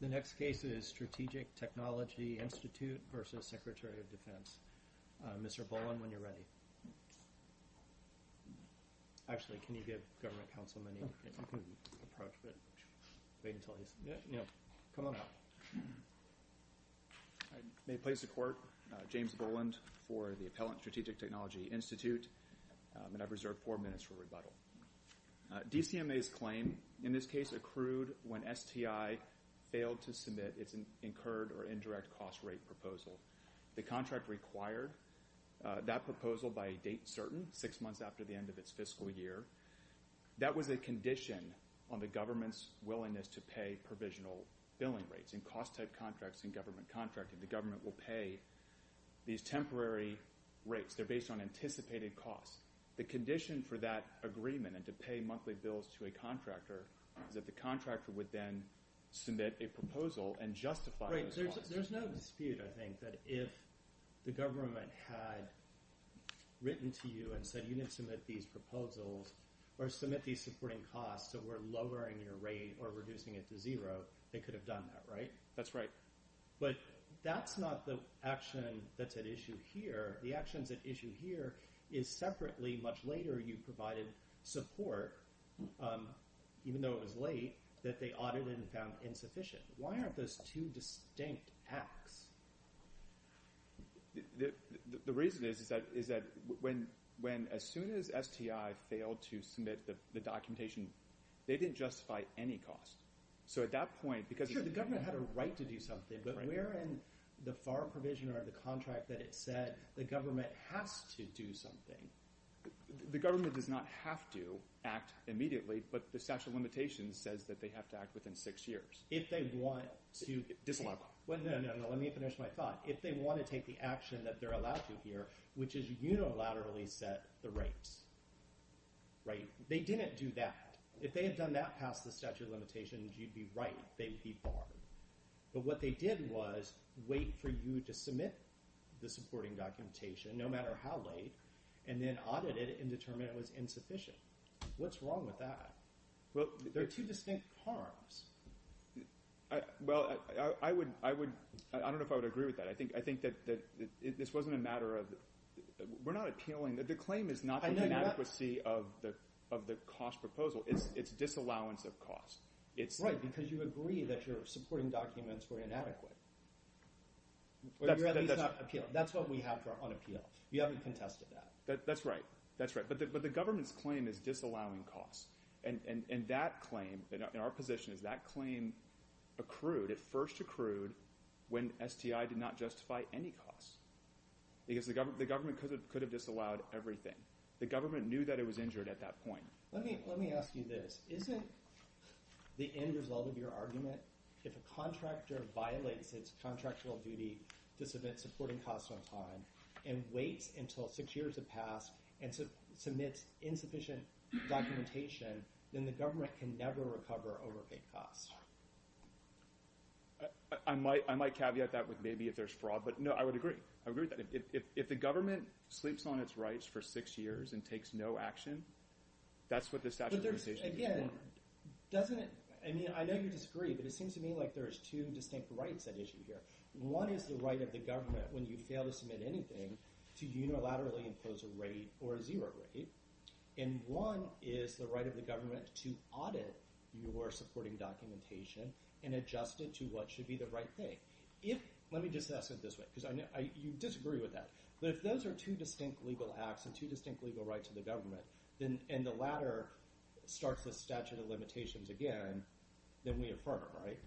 The next case is Strategic Technology Institute v. Secretary of Defense. Mr. Boland, when you're ready. Actually, can you give government counsel a minute? You can approach, but wait until he's... No, come on up. May it please the Court. James Boland for the Appellant Strategic Technology Institute. And I've reserved four minutes for rebuttal. DCMA's claim in this case accrued when STI failed to submit its incurred or indirect cost rate proposal. The contract required that proposal by a date certain, six months after the end of its fiscal year. That was a condition on the government's willingness to pay provisional billing rates in cost-type contracts in government contracting. The government will pay these temporary rates. They're based on anticipated costs. The condition for that agreement and to pay monthly bills to a contractor is that the contractor would then submit a proposal and justify those costs. There's no dispute, I think, that if the government had written to you and said, you need to submit these proposals or submit these supporting costs that we're lowering your rate or reducing it to zero, they could have done that, right? That's right. But that's not the action that's at issue here. The actions at issue here is separately much later you provided support, even though it was late, that they audited and found insufficient. Why aren't those two distinct acts? The reason is that when as soon as STI failed to submit the documentation, they didn't justify any cost. So at that point, because – Sure, the government had a right to do something, but we're in the FAR provision or the contract that it said the government has to do something. The government does not have to act immediately, but the statute of limitations says that they have to act within six years. If they want to – Disallow. No, no, no. Let me finish my thought. If they want to take the action that they're allowed to here, which is unilaterally set the rates, right? They didn't do that. If they had done that past the statute of limitations, you'd be right. They would be barred. But what they did was wait for you to submit the supporting documentation no matter how late and then audit it and determine it was insufficient. What's wrong with that? They're two distinct harms. Well, I would – I don't know if I would agree with that. I think that this wasn't a matter of – we're not appealing. The claim is not the inadequacy of the cost proposal. It's disallowance of cost. Right, because you agree that your supporting documents were inadequate. Or you're at least not appealing. That's what we have on appeal. We haven't contested that. That's right. That's right. But the government's claim is disallowing cost. And that claim – and our position is that claim accrued. It first accrued when STI did not justify any cost because the government could have disallowed everything. The government knew that it was injured at that point. Let me ask you this. Isn't the end result of your argument if a contractor violates its contractual duty to submit supporting costs on time and waits until six years have passed and submits insufficient documentation, then the government can never recover overpaid costs? I might caveat that with maybe if there's fraud. But, no, I would agree. I would agree with that. If the government sleeps on its rights for six years and takes no action, that's what the statute of limitations would require. Again, doesn't it – I mean I know you disagree, but it seems to me like there's two distinct rights at issue here. One is the right of the government, when you fail to submit anything, to unilaterally impose a rate or a zero rate. And one is the right of the government to audit your supporting documentation and adjust it to what should be the right thing. Let me just ask it this way because you disagree with that. But if those are two distinct legal acts and two distinct legal rights to the government, and the latter starts the statute of limitations again, then we affirm it, right?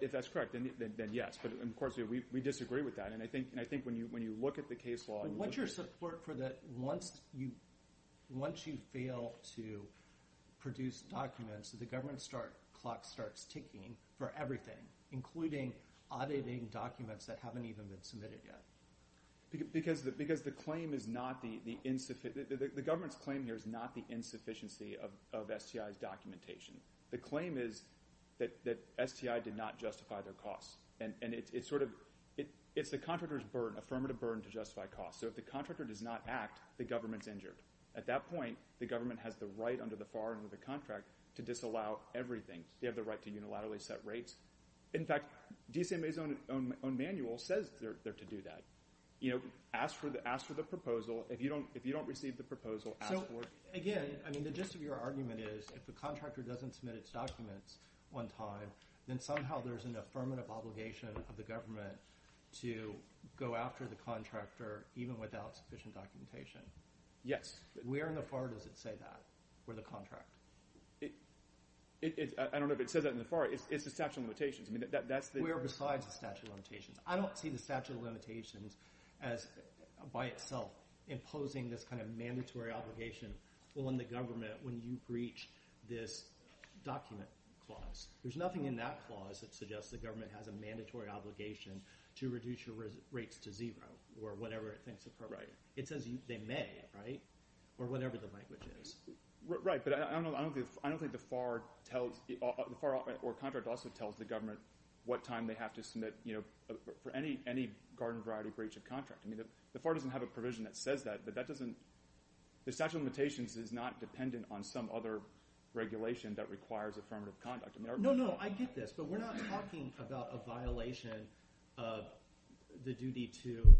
If that's correct, then yes. But, of course, we disagree with that. And I think when you look at the case law – But what's your support for that once you fail to produce documents, the government clock starts ticking for everything, including auditing documents that haven't even been submitted yet? Because the claim is not the – the government's claim here is not the insufficiency of STI's documentation. The claim is that STI did not justify their costs. And it's sort of – it's the contractor's burden, affirmative burden to justify costs. So if the contractor does not act, the government's injured. At that point, the government has the right under the FAR under the contract to disallow everything. They have the right to unilaterally set rates. In fact, DCMA's own manual says they're to do that. Ask for the proposal. If you don't receive the proposal, ask for it. So, again, I mean the gist of your argument is if the contractor doesn't submit its documents on time, then somehow there's an affirmative obligation of the government to go after the contractor even without sufficient documentation. Yes. Where in the FAR does it say that for the contract? I don't know if it says that in the FAR. I'm sorry. It's the statute of limitations. I mean that's the – Where besides the statute of limitations? I don't see the statute of limitations as by itself imposing this kind of mandatory obligation on the government when you breach this document clause. There's nothing in that clause that suggests the government has a mandatory obligation to reduce your rates to zero or whatever it thinks appropriate. Right. It says they may, right, or whatever the language is. Right, but I don't think the FAR tells – the FAR or contract also tells the government what time they have to submit for any garden variety breach of contract. I mean the FAR doesn't have a provision that says that, but that doesn't – the statute of limitations is not dependent on some other regulation that requires affirmative conduct. No, no. I get this, but we're not talking about a violation of the duty to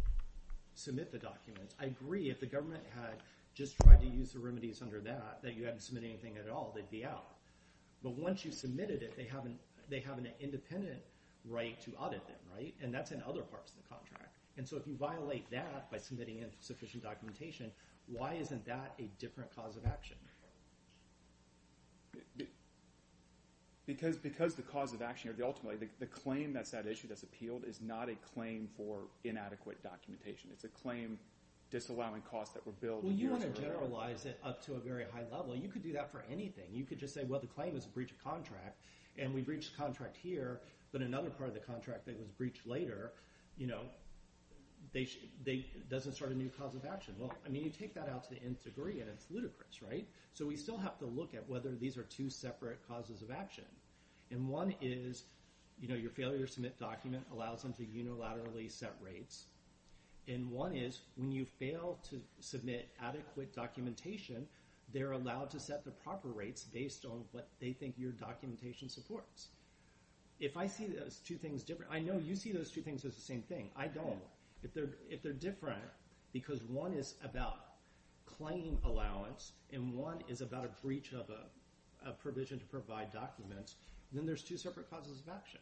submit the documents. I agree if the government had just tried to use the remedies under that, that you haven't submitted anything at all, they'd be out. But once you've submitted it, they have an independent right to audit it, right, and that's in other parts of the contract. And so if you violate that by submitting insufficient documentation, why isn't that a different cause of action? Because the cause of action – ultimately the claim that's at issue, that's appealed, is not a claim for inadequate documentation. It's a claim disallowing costs that were billed years ago. Well, you want to generalize it up to a very high level. You could do that for anything. You could just say, well, the claim is a breach of contract, and we breached the contract here, but another part of the contract that was breached later, you know, doesn't start a new cause of action. Well, I mean you take that out to the nth degree, and it's ludicrous, right? So we still have to look at whether these are two separate causes of action. And one is, you know, your failure to submit document allows them to unilaterally set rates, and one is when you fail to submit adequate documentation, they're allowed to set the proper rates based on what they think your documentation supports. If I see those two things different – I know you see those two things as the same thing. I don't. If they're different because one is about claim allowance and one is about a breach of a provision to provide documents, then there's two separate causes of action.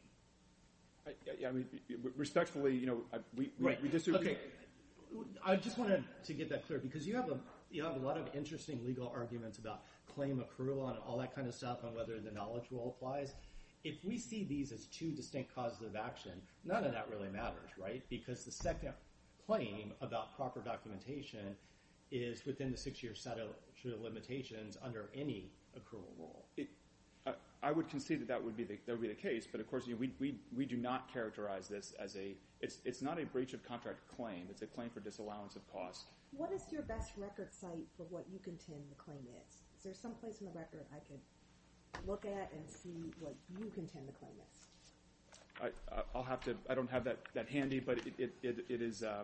Respectfully, you know, we disagree. Okay. I just wanted to get that clear because you have a lot of interesting legal arguments about claim accrual and all that kind of stuff and whether the knowledge role applies. If we see these as two distinct causes of action, none of that really matters, right? Because the second claim about proper documentation is within the six-year statute of limitations under any accrual rule. I would concede that that would be the case, but, of course, we do not characterize this as a – it's not a breach of contract claim. It's a claim for disallowance of cost. What is your best record site for what you contend the claim is? Is there some place in the record I could look at and see what you contend the claim is? I'll have to – I don't have that handy, but it is –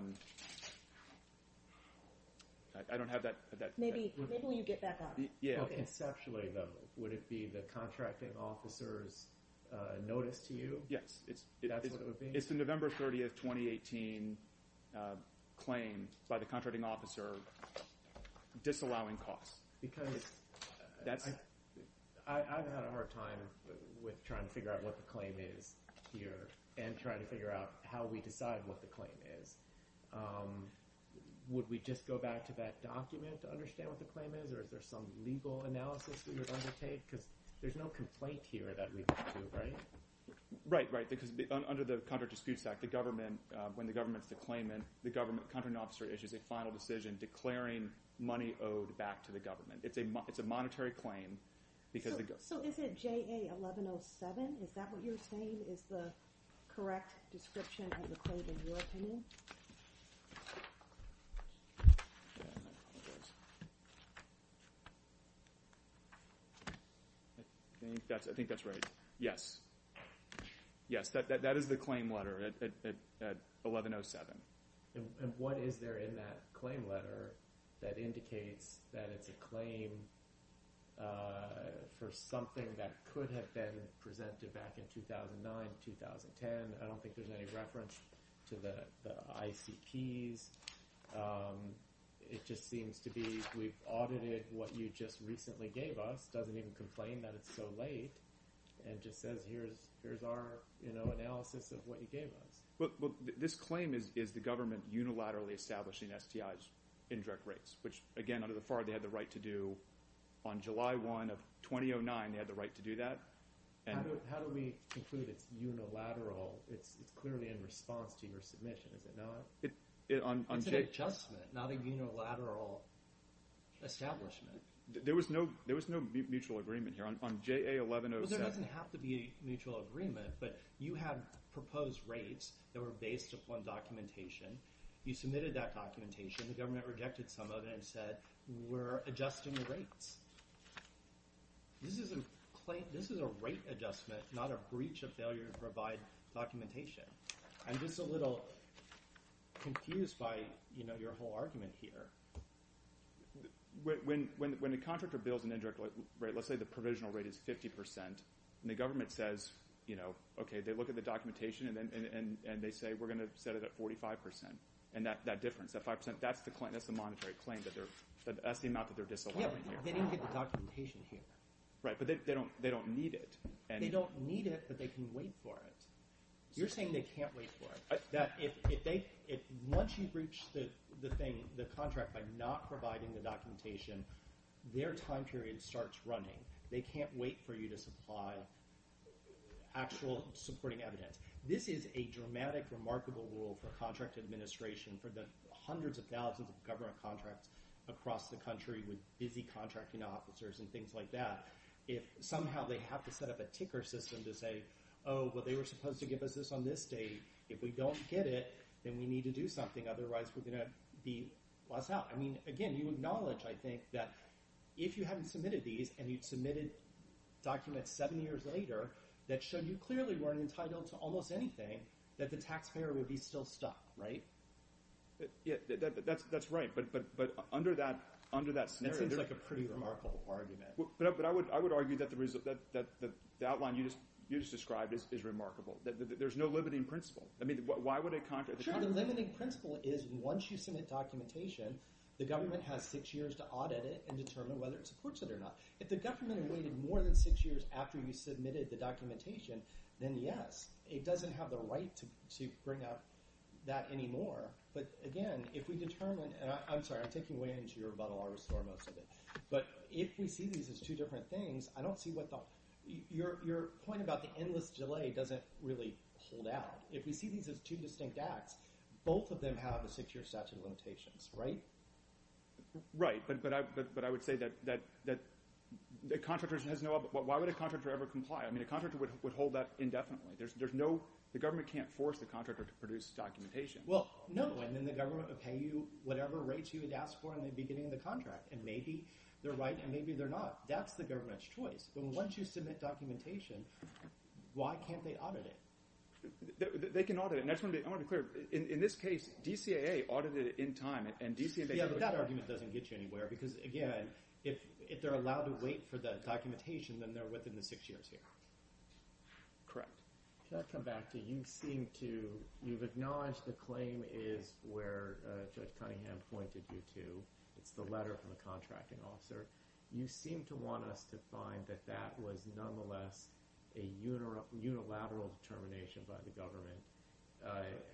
I don't have that – Maybe when you get back on it. Conceptually, though, would it be the contracting officer's notice to you? Yes. That's what it would be? It's the November 30th, 2018 claim by the contracting officer disallowing costs. Because I've had a hard time with trying to figure out what the claim is here and trying to figure out how we decide what the claim is. Would we just go back to that document to understand what the claim is or is there some legal analysis that you would undertake? Because there's no complaint here that we would do, right? Right, right, because under the Contract Disputes Act, the government – when the government's the claimant, the government contracting officer issues a final decision declaring money owed back to the government. It's a monetary claim because – So is it JA-1107? Is that what you're saying is the correct description of the claim in your opinion? I think that's right. Yes. Yes, that is the claim letter at 1107. And what is there in that claim letter that indicates that it's a claim for something that could have been presented back in 2009, 2010? I don't think there's any reference to the ICPs. It just seems to be we've audited what you just recently gave us, doesn't even complain that it's so late, and just says here's our analysis of what you gave us. Well, this claim is the government unilaterally establishing STI's indirect rates, which, again, under the FAR, they had the right to do on July 1 of 2009. They had the right to do that. How do we conclude it's unilateral? It's clearly in response to your submission, is it not? It's an adjustment, not a unilateral establishment. There was no mutual agreement here on JA-1107. Well, there doesn't have to be a mutual agreement, but you had proposed rates that were based upon documentation. You submitted that documentation. The government rejected some of it and said we're adjusting the rates. This is a rate adjustment, not a breach of failure to provide documentation. I'm just a little confused by your whole argument here. When a contractor builds an indirect rate, let's say the provisional rate is 50 percent, and the government says, okay, they look at the documentation, and they say we're going to set it at 45 percent, and that difference, that 5 percent, that's the monetary claim. That's the amount that they're disallowing here. They didn't get the documentation here. Right, but they don't need it. They don't need it, but they can wait for it. You're saying they can't wait for it. Once you breach the contract by not providing the documentation, their time period starts running. They can't wait for you to supply actual supporting evidence. This is a dramatic, remarkable rule for contract administration for the hundreds of thousands of government contracts across the country with busy contracting officers and things like that. If somehow they have to set up a ticker system to say, oh, well, they were supposed to give us this on this date. If we don't get it, then we need to do something, otherwise we're going to be lost out. I mean, again, you acknowledge, I think, that if you hadn't submitted these and you submitted documents seven years later that showed you clearly weren't entitled to almost anything, that the taxpayer would be still stuck, right? Yeah, that's right, but under that scenario they're— That seems like a pretty remarkable argument. But I would argue that the outline you just described is remarkable. There's no limiting principle. Sure, the limiting principle is once you submit documentation, the government has six years to audit it and determine whether it supports it or not. If the government had waited more than six years after you submitted the documentation, then yes, it doesn't have the right to bring up that anymore. But again, if we determine— I'm sorry, I'm taking away into your rebuttal, I'll restore most of it. But if we see these as two different things, I don't see what the— Your point about the endless delay doesn't really hold out. If we see these as two distinct acts, both of them have a six-year statute of limitations, right? Right, but I would say that the contractor has no— Why would a contractor ever comply? I mean, a contractor would hold that indefinitely. There's no—the government can't force the contractor to produce documentation. Well, no, and then the government would pay you whatever rates you had asked for in the beginning of the contract. And maybe they're right and maybe they're not. That's the government's choice. But once you submit documentation, why can't they audit it? They can audit it, and I just want to be clear. In this case, DCAA audited it in time, and DCAA— Yeah, but that argument doesn't get you anywhere because, again, if they're allowed to wait for the documentation, then they're within the six years here. Correct. Can I come back to you seem to— you've acknowledged the claim is where Judge Cunningham pointed you to. It's the letter from the contracting officer. You seem to want us to find that that was, nonetheless, a unilateral determination by the government.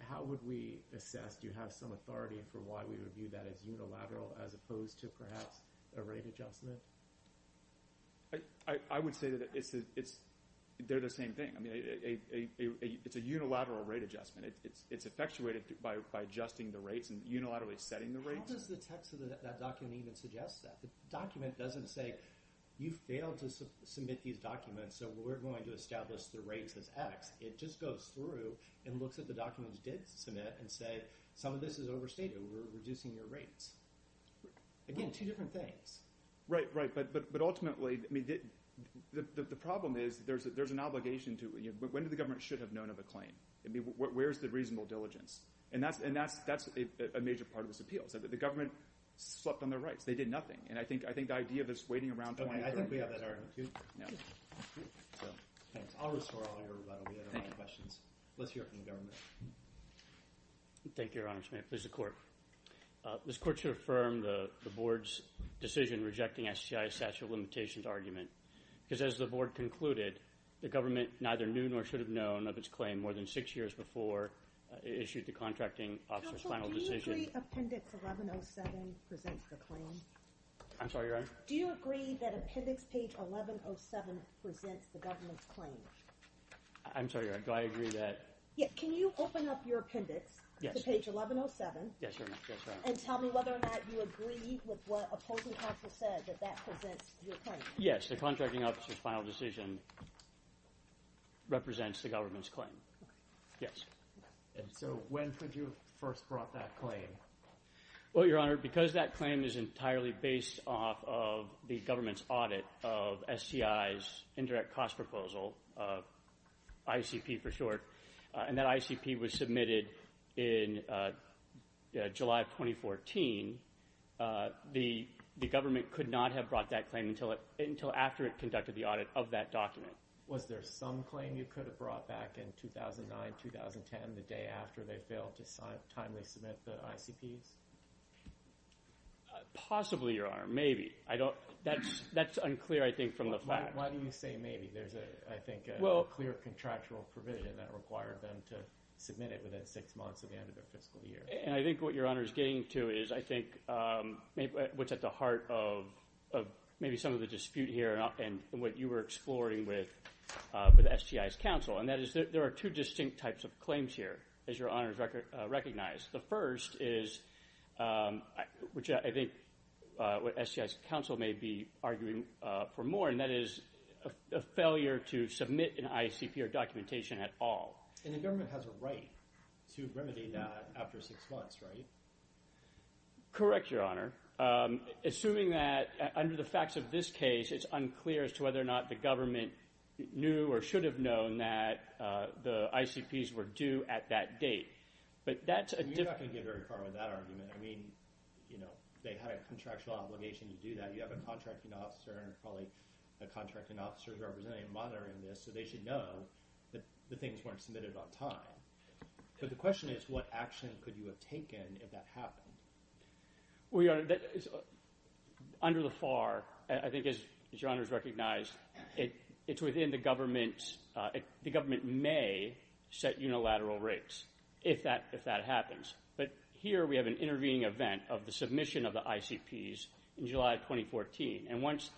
How would we assess—do you have some authority for why we would view that as unilateral as opposed to perhaps a rate adjustment? I would say that it's—they're the same thing. I mean, it's a unilateral rate adjustment. It's effectuated by adjusting the rates and unilaterally setting the rates. How does the text of that document even suggest that? The document doesn't say, you failed to submit these documents, so we're going to establish the rates as X. It just goes through and looks at the documents it did submit and say, some of this is overstated. We're reducing your rates. Again, two different things. Right, right, but ultimately, I mean, the problem is there's an obligation to— when do the government should have known of a claim? I mean, where's the reasonable diligence? And that's a major part of this appeal. The government slept on their rights. They did nothing. And I think the idea of us waiting around 20 years— I think we have that argument, too. Thanks. I'll restore all your—we have a lot of questions. Let's hear it from the government. Thank you, Your Honor. This is the court. This court should affirm the board's decision rejecting SCI's statute of limitations argument because as the board concluded, the government neither knew nor should have known of its claim more than six years before it issued the contracting officer's final decision. Do you agree Appendix 1107 presents the claim? I'm sorry, Your Honor? Do you agree that Appendix page 1107 presents the government's claim? I'm sorry, Your Honor. Do I agree that— Yeah, can you open up your appendix to page 1107— Yes, Your Honor. Yes, Your Honor. —and tell me whether or not you agree with what opposing counsel said, that that presents your claim? Yes, the contracting officer's final decision represents the government's claim. Yes. So when could you have first brought that claim? Well, Your Honor, because that claim is entirely based off of the government's audit of SCI's indirect cost proposal, ICP for short, and that ICP was submitted in July of 2014, the government could not have brought that claim until after it conducted the audit of that document. Was there some claim you could have brought back in 2009, 2010, the day after they failed to timely submit the ICPs? Possibly, Your Honor. Maybe. That's unclear, I think, from the facts. Why do you say maybe? There's, I think, a clear contractual provision that required them to submit it within six months of the end of their fiscal year. And I think what Your Honor is getting to is, I think, what's at the heart of maybe some of the dispute here and what you were exploring with SCI's counsel, and that is there are two distinct types of claims here, as Your Honor has recognized. The first is, which I think SCI's counsel may be arguing for more, and that is a failure to submit an ICP or documentation at all. And the government has a right to remedy that after six months, right? Correct, Your Honor. Assuming that, under the facts of this case, it's unclear as to whether or not the government knew or should have known that the ICPs were due at that date. But that's a different— You're not going to get very far with that argument. I mean, you know, they had a contractual obligation to do that. You have a contracting officer and probably a contracting officer's representative monitoring this, so they should know that the things weren't submitted on time. But the question is, what action could you have taken if that happened? Well, Your Honor, under the FAR, I think as Your Honor has recognized, it's within the government's—the government may set unilateral rates if that happens. But here we have an intervening event of the submission of the ICPs in July of 2014, and once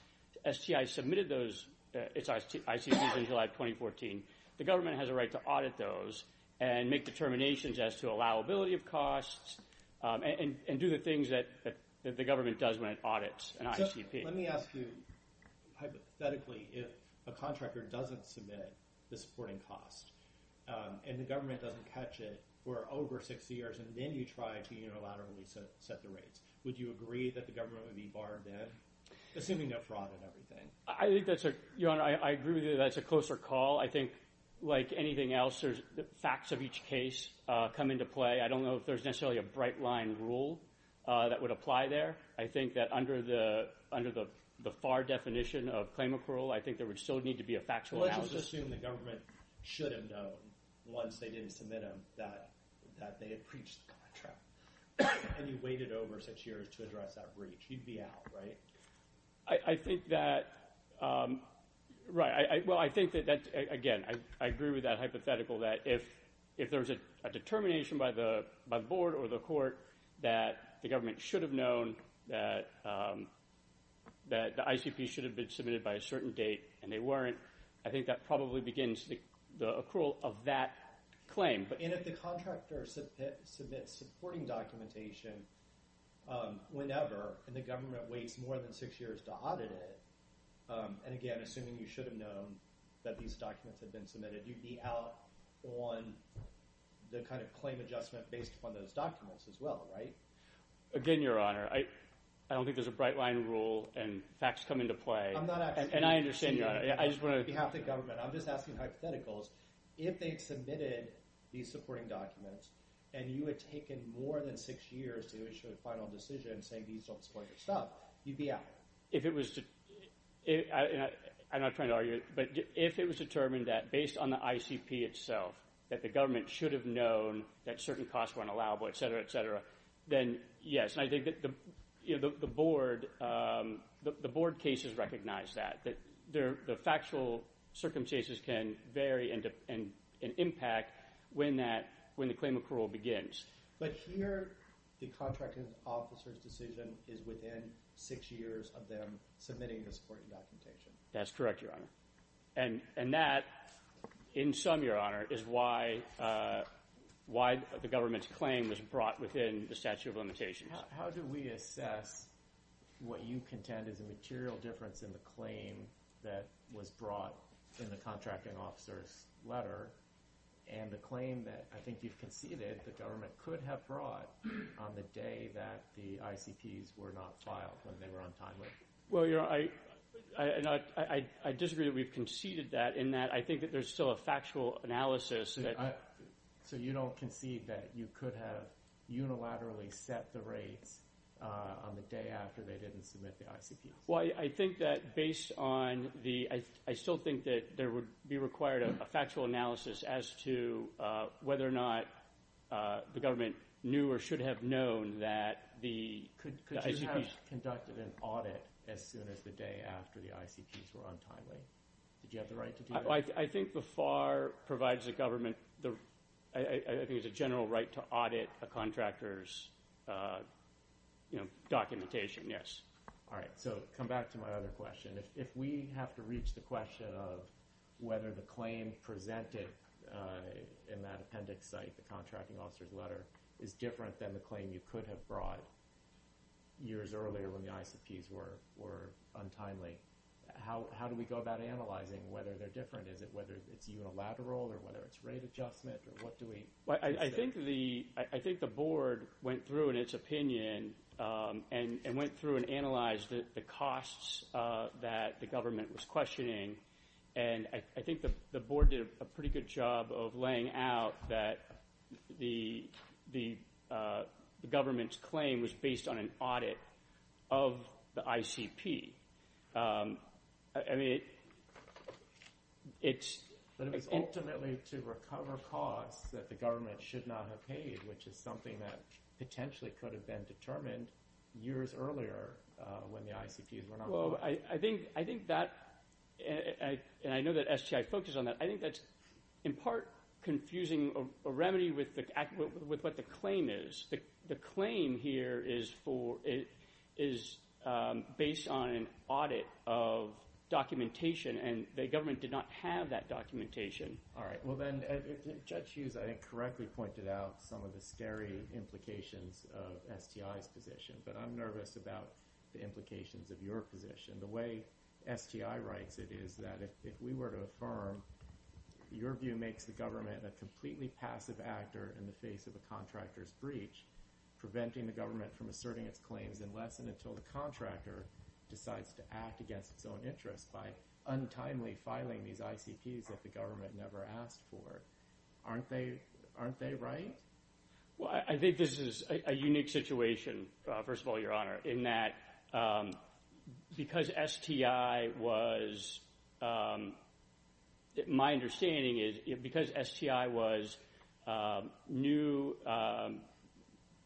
SCI submitted those—its ICPs in July of 2014, the government has a right to audit those and make determinations as to allowability of costs and do the things that the government does when it audits an ICP. So let me ask you, hypothetically, if a contractor doesn't submit the supporting cost and the government doesn't catch it for over 60 years and then you try to unilaterally set the rates, would you agree that the government would be barred then, assuming no fraud and everything? I think that's a—Your Honor, I agree with you that that's a closer call. I think, like anything else, there's facts of each case come into play. I don't know if there's necessarily a bright-line rule that would apply there. I think that under the FAR definition of claim approval, I think there would still need to be a factual analysis. Well, let's just assume the government should have known once they didn't submit them that they had breached the contract, and you waited over six years to address that breach. You'd be out, right? I think that—Right. Well, I think that, again, I agree with that hypothetical that if there was a determination by the board or the court that the government should have known that the ICP should have been submitted by a certain date and they weren't, I think that probably begins the accrual of that claim. And if the contractor submits supporting documentation whenever and the government waits more than six years to audit it, and again, assuming you should have known that these documents had been submitted, you'd be out on the kind of claim adjustment based upon those documents as well, right? Again, Your Honor, I don't think there's a bright-line rule and facts come into play. I'm not asking—And I understand, Your Honor. On behalf of the government, I'm just asking hypotheticals. If they had submitted these supporting documents and you had taken more than six years to issue a final decision saying these don't support your stuff, you'd be out. If it was—I'm not trying to argue it, but if it was determined that based on the ICP itself that the government should have known that certain costs were unallowable, et cetera, et cetera, then yes, and I think that the board cases recognize that, that the factual circumstances can vary and impact when the claim accrual begins. But here, the contracting officer's decision is within six years of them submitting the supporting documentation. That's correct, Your Honor. And that, in sum, Your Honor, is why the government's claim was brought within the statute of limitations. How do we assess what you contend is a material difference in the claim and the claim that I think you've conceded the government could have brought on the day that the ICPs were not filed when they were on time? Well, Your Honor, I disagree that we've conceded that in that I think that there's still a factual analysis that— So you don't concede that you could have unilaterally set the rates on the day after they didn't submit the ICPs? Well, I think that based on the—I still think that there would be required a factual analysis as to whether or not the government knew or should have known that the ICPs— Could you have conducted an audit as soon as the day after the ICPs were on time? Did you have the right to do that? I think the FAR provides the government—I think it's a general right to audit a contractor's documentation, yes. All right, so come back to my other question. If we have to reach the question of whether the claim presented in that appendix site, the contracting officer's letter, is different than the claim you could have brought years earlier when the ICPs were untimely, how do we go about analyzing whether they're different? Is it whether it's unilateral or whether it's rate adjustment or what do we— I think the board went through in its opinion and went through and analyzed the costs that the government was questioning, and I think the board did a pretty good job of laying out that the government's claim was based on an audit of the ICP. I mean, it's— But it was ultimately to recover costs that the government should not have paid, which is something that potentially could have been determined years earlier when the ICPs were not— Well, I think that—and I know that STI focused on that. I think that's in part confusing a remedy with what the claim is. The claim here is based on an audit of documentation, and the government did not have that documentation. All right. Well, then Judge Hughes, I think, correctly pointed out some of the scary implications of STI's position, but I'm nervous about the implications of your position. The way STI writes it is that if we were to affirm, your view makes the government a completely passive actor in the face of a contractor's breach, preventing the government from asserting its claims unless and until the contractor decides to act against its own interests by untimely filing these ICPs that the government never asked for. Aren't they right? Well, I think this is a unique situation, first of all, Your Honor, in that because STI was—my understanding is because STI was new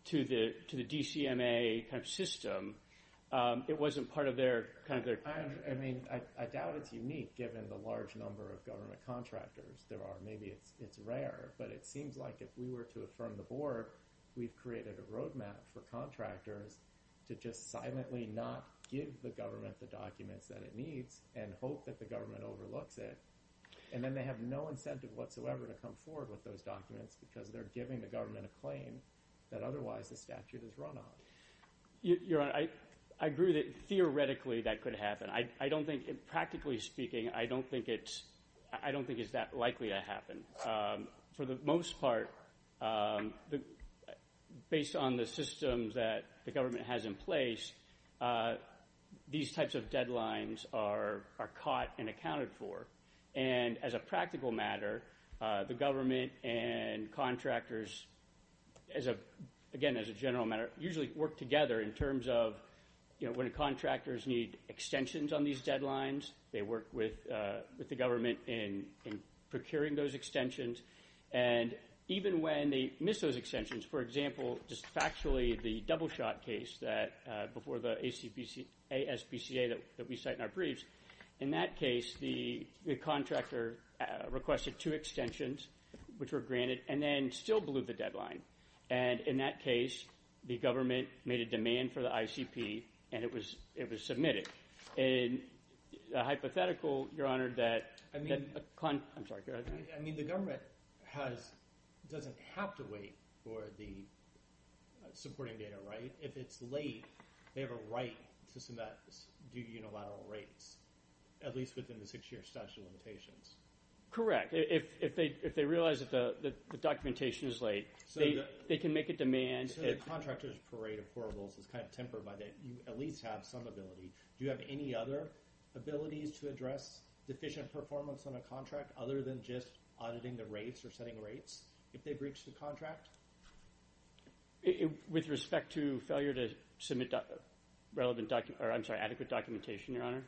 to the DCMA system, it wasn't part of their— I mean, I doubt it's unique given the large number of government contractors there are. Maybe it's rare, but it seems like if we were to affirm the board, we've created a roadmap for contractors to just silently not give the government the documents that it needs and hope that the government overlooks it, and then they have no incentive whatsoever to come forward with those documents because they're giving the government a claim that otherwise the statute is run on. Your Honor, I agree that theoretically that could happen. I don't think—practically speaking, I don't think it's that likely to happen. For the most part, based on the systems that the government has in place, these types of deadlines are caught and accounted for. And as a practical matter, the government and contractors, again, as a general matter, usually work together in terms of when contractors need extensions on these deadlines, they work with the government in procuring those extensions, and even when they miss those extensions, for example, just factually, the double-shot case before the ASPCA that we cite in our briefs, in that case the contractor requested two extensions, which were granted, and then still blew the deadline. And in that case, the government made a demand for the ICP, and it was submitted. A hypothetical, Your Honor, that—I'm sorry, go ahead. I mean the government doesn't have to wait for the supporting data, right? If it's late, they have a right to submit due unilateral rates, at least within the six-year statute of limitations. Correct. If they realize that the documentation is late, they can make a demand. So the contractors' parade of horribles is kind of tempered by that you at least have some ability Do you have any other abilities to address deficient performance on a contract other than just auditing the rates or setting rates if they breach the contract? With respect to failure to submit relevant—I'm sorry, adequate documentation, Your Honor?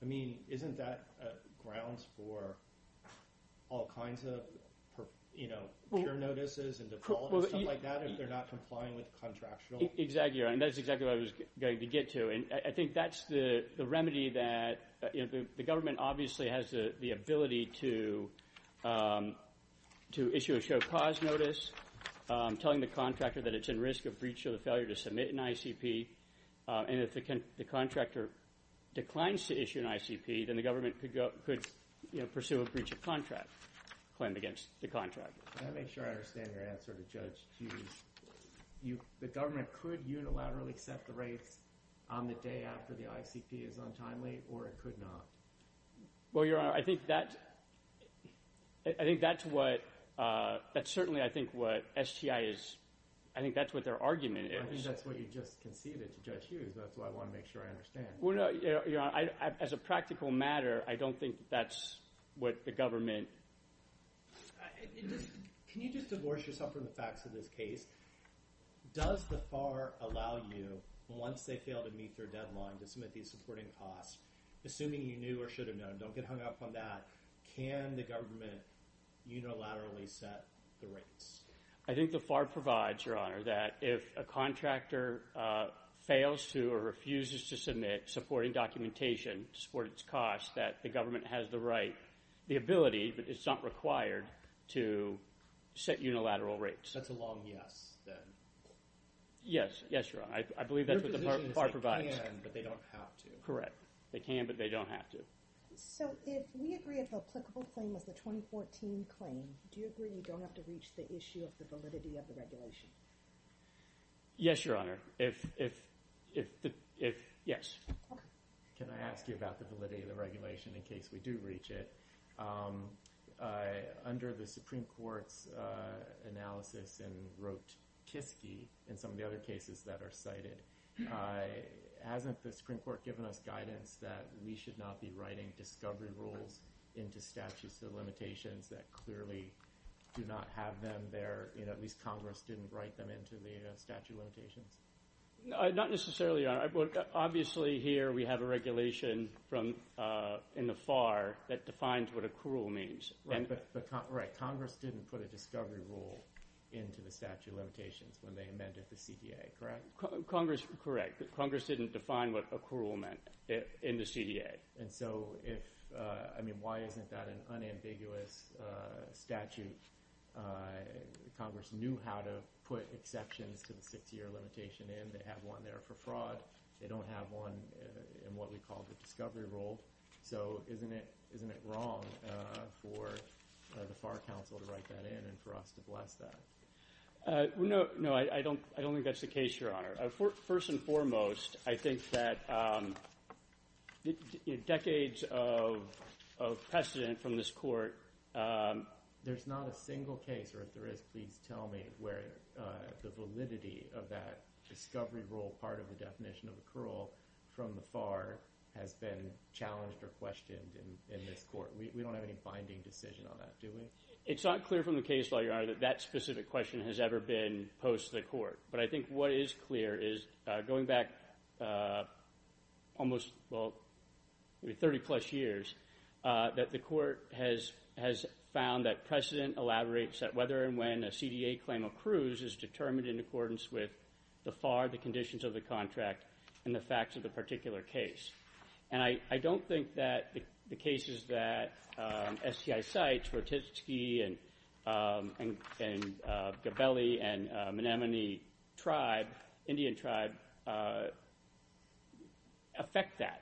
I mean isn't that grounds for all kinds of, you know, peer notices and default and stuff like that if they're not complying with contractual— Exactly, Your Honor, and that's exactly what I was going to get to. And I think that's the remedy that the government obviously has the ability to issue a show cause notice, telling the contractor that it's in risk of breach of the failure to submit an ICP. And if the contractor declines to issue an ICP, then the government could, you know, pursue a breach of contract claim against the contractor. Can I make sure I understand your answer to Judge Hughes? The government could unilaterally set the rates on the day after the ICP is untimely or it could not? Well, Your Honor, I think that's what—that's certainly I think what STI is—I think that's what their argument is. I think that's what you just conceded to Judge Hughes. That's why I want to make sure I understand. Well, no, Your Honor, as a practical matter, I don't think that's what the government— Can you just divorce yourself from the facts of this case? Does the FAR allow you, once they fail to meet their deadline, to submit these supporting costs? Assuming you knew or should have known, don't get hung up on that, can the government unilaterally set the rates? I think the FAR provides, Your Honor, that if a contractor fails to or refuses to submit supporting documentation to support its costs, that the government has the right, the ability, but it's not required, to set unilateral rates. That's a long yes, then. Yes. Yes, Your Honor. I believe that's what the FAR provides. Their position is they can, but they don't have to. Correct. They can, but they don't have to. So if we agree if the applicable claim was the 2014 claim, do you agree you don't have to reach the issue of the validity of the regulation? Yes, Your Honor. If—yes. Okay. Can I ask you about the validity of the regulation in case we do reach it? Under the Supreme Court's analysis in Rote-Kiski and some of the other cases that are cited, hasn't the Supreme Court given us guidance that we should not be writing discovery rules into statutes of limitations that clearly do not have them there? At least Congress didn't write them into the statute of limitations. Not necessarily, Your Honor. Obviously, here we have a regulation from—in the FAR that defines what accrual means. Right, but Congress didn't put a discovery rule into the statute of limitations when they amended the CDA, correct? Congress—correct. Congress didn't define what accrual meant in the CDA. And so if—I mean, why isn't that an unambiguous statute? Congress knew how to put exceptions to the six-year limitation in. They have one there for fraud. They don't have one in what we call the discovery rule. So isn't it wrong for the FAR counsel to write that in and for us to bless that? No, I don't think that's the case, Your Honor. First and foremost, I think that decades of precedent from this Court, there's not a single case, or if there is, please tell me, where the validity of that discovery rule part of the definition of accrual from the FAR has been challenged or questioned in this Court. We don't have any binding decision on that, do we? It's not clear from the case law, Your Honor, that that specific question has ever been posed to the Court. But I think what is clear is, going back almost, well, 30-plus years, that the Court has found that precedent elaborates that whether and when a CDA claim accrues is determined in accordance with the FAR, the conditions of the contract, and the facts of the particular case. And I don't think that the cases that STI cites, Rotitzky and Gabelli and Menominee tribe, Indian tribe, affect that.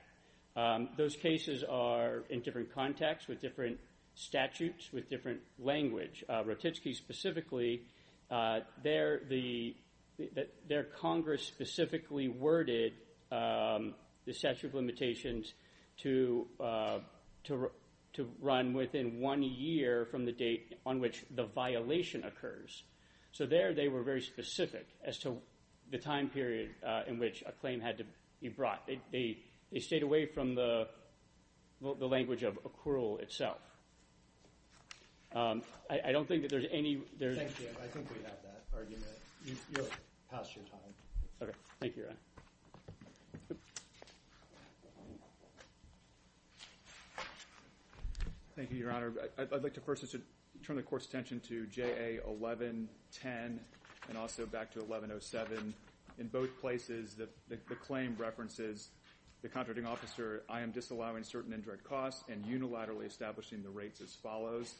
Those cases are in different contexts, with different statutes, with different language. Rotitzky specifically, their Congress specifically worded the statute of limitations to run within one year from the date on which the violation occurs. So there they were very specific as to the time period in which a claim had to be brought. They stayed away from the language of accrual itself. I don't think that there's any – Thank you. I think we have that argument. You're past your time. Okay. Thank you, Your Honor. Thank you, Your Honor. I'd like to first turn the Court's attention to JA 1110 and also back to 1107. In both places, the claim references the contracting officer, I am disallowing certain indirect costs and unilaterally establishing the rates as follows.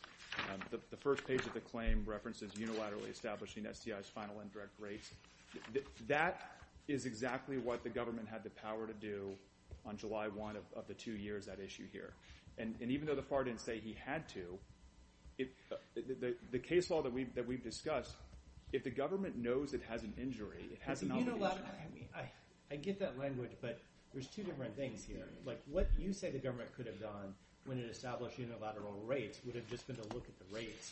The first page of the claim references unilaterally establishing STI's final indirect rates. That is exactly what the government had the power to do on July 1 of the two years at issue here. And even though the FAR didn't say he had to, the case law that we've discussed, if the government knows it has an injury, it has an obligation – I get that language, but there's two different things here. Like what you say the government could have done when it established unilateral rates would have just been to look at the rates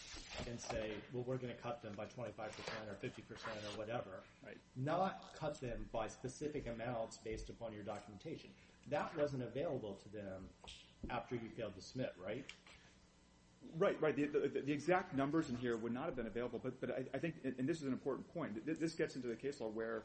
and say, well, we're going to cut them by 25% or 50% or whatever. Not cut them by specific amounts based upon your documentation. That wasn't available to them after you failed to submit, right? Right, right. The exact numbers in here would not have been available. But I think – and this is an important point. This gets into the case law where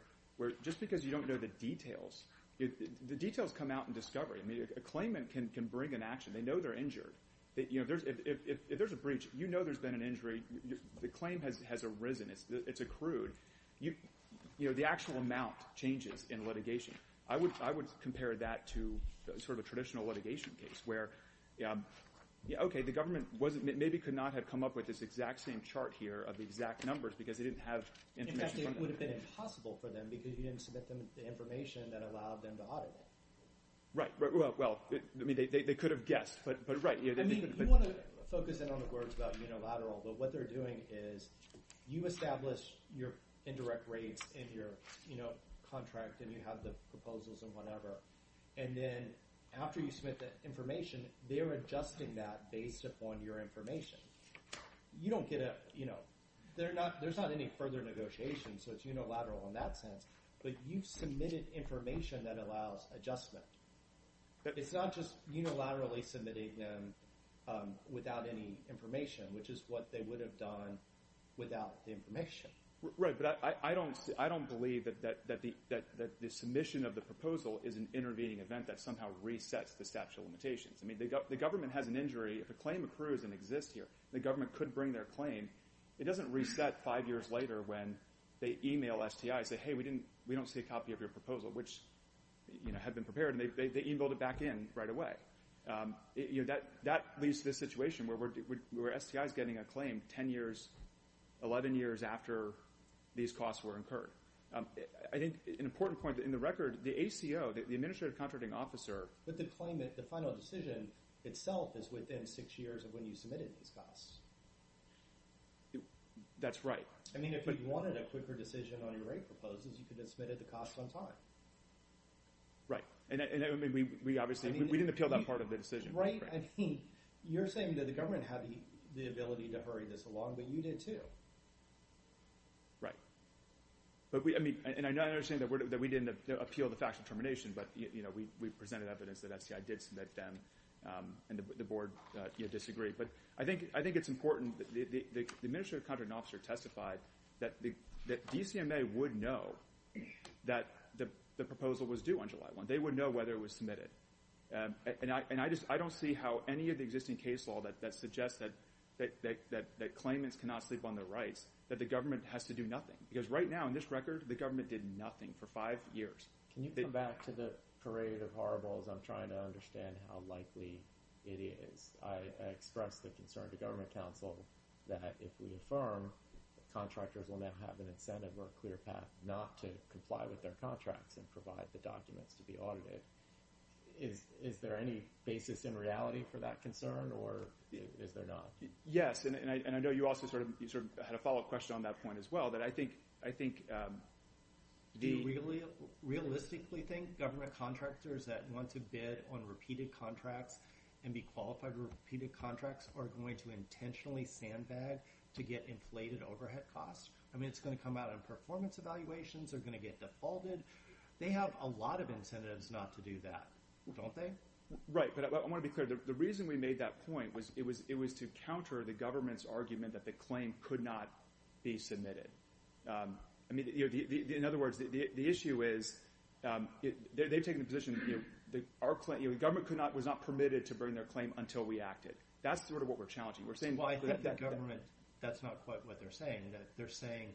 just because you don't know the details, the details come out in discovery. A claimant can bring an action. They know they're injured. If there's a breach, you know there's been an injury. The claim has arisen. It's accrued. The actual amount changes in litigation. I would compare that to sort of a traditional litigation case where, okay, the government maybe could not have come up with this exact same chart here of the exact numbers because they didn't have information from that. In fact, it would have been impossible for them because you didn't submit them the information that allowed them to audit it. Right. Well, they could have guessed, but right. I mean you want to focus in on the words about unilateral, but what they're doing is you establish your indirect rates in your contract, and you have the proposals and whatever. And then after you submit the information, they're adjusting that based upon your information. You don't get a – there's not any further negotiation, so it's unilateral in that sense. But you've submitted information that allows adjustment. It's not just unilaterally submitting them without any information, which is what they would have done without the information. Right, but I don't believe that the submission of the proposal is an intervening event that somehow resets the statute of limitations. I mean the government has an injury. If a claim accrues and exists here, the government could bring their claim. It doesn't reset five years later when they email STI and say, hey, we don't see a copy of your proposal, which had been prepared, and they emailed it back in right away. That leads to this situation where STI is getting a claim 10 years, 11 years after these costs were incurred. I think an important point in the record, the ACO, the administrative contracting officer, with the claimant, the final decision itself is within six years of when you submitted these costs. That's right. I mean if you wanted a quicker decision on your rate proposals, you could have submitted the cost on time. Right, and I mean we obviously – we didn't appeal that part of the decision. Right, I mean you're saying that the government had the ability to hurry this along, but you did too. Right, and I understand that we didn't appeal the facts of termination, but we presented evidence that STI did submit them, and the board disagreed. But I think it's important that the administrative contracting officer testified that DCMA would know that the proposal was due on July 1. And I don't see how any of the existing case law that suggests that claimants cannot sleep on their rights, that the government has to do nothing. Because right now, in this record, the government did nothing for five years. Can you come back to the parade of horribles? I'm trying to understand how likely it is. I expressed the concern to government counsel that if we affirm, contractors will now have an incentive or a clear path not to comply with their contracts and provide the documents to be audited. Is there any basis in reality for that concern, or is there not? Yes, and I know you also sort of – you sort of had a follow-up question on that point as well. But I think – Do you realistically think government contractors that want to bid on repeated contracts and be qualified for repeated contracts are going to intentionally sandbag to get inflated overhead costs? I mean, it's going to come out in performance evaluations. They're going to get defaulted. They have a lot of incentives not to do that, don't they? Right, but I want to be clear. The reason we made that point was it was to counter the government's argument that the claim could not be submitted. I mean, in other words, the issue is they've taken the position that our claim – the government was not permitted to bring their claim until we acted. That's sort of what we're challenging. Well, I think the government – that's not quite what they're saying. They're saying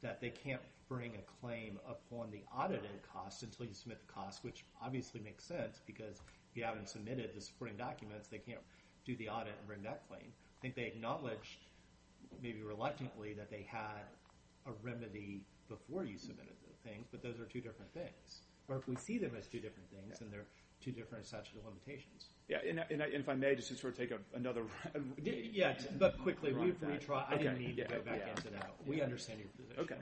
that they can't bring a claim upon the audited cost until you submit the cost, which obviously makes sense because if you haven't submitted the supporting documents, they can't do the audit and bring that claim. I think they acknowledged, maybe reluctantly, that they had a remedy before you submitted the thing, but those are two different things. Or if we see them as two different things, then they're two different sets of limitations. Yeah, and if I may, just to sort of take another – Yeah, but quickly, we've retried. I didn't mean to go back into that. We understand your position. Okay.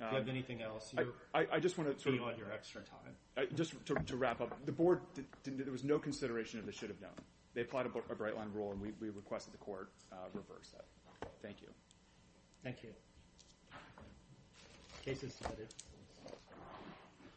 If you have anything else, you're – I just want to sort of – You want your extra time. Just to wrap up, the board – there was no consideration of the should have known. They applied a bright line rule, and we requested the court reverse that. Thank you. Thank you. Case is submitted.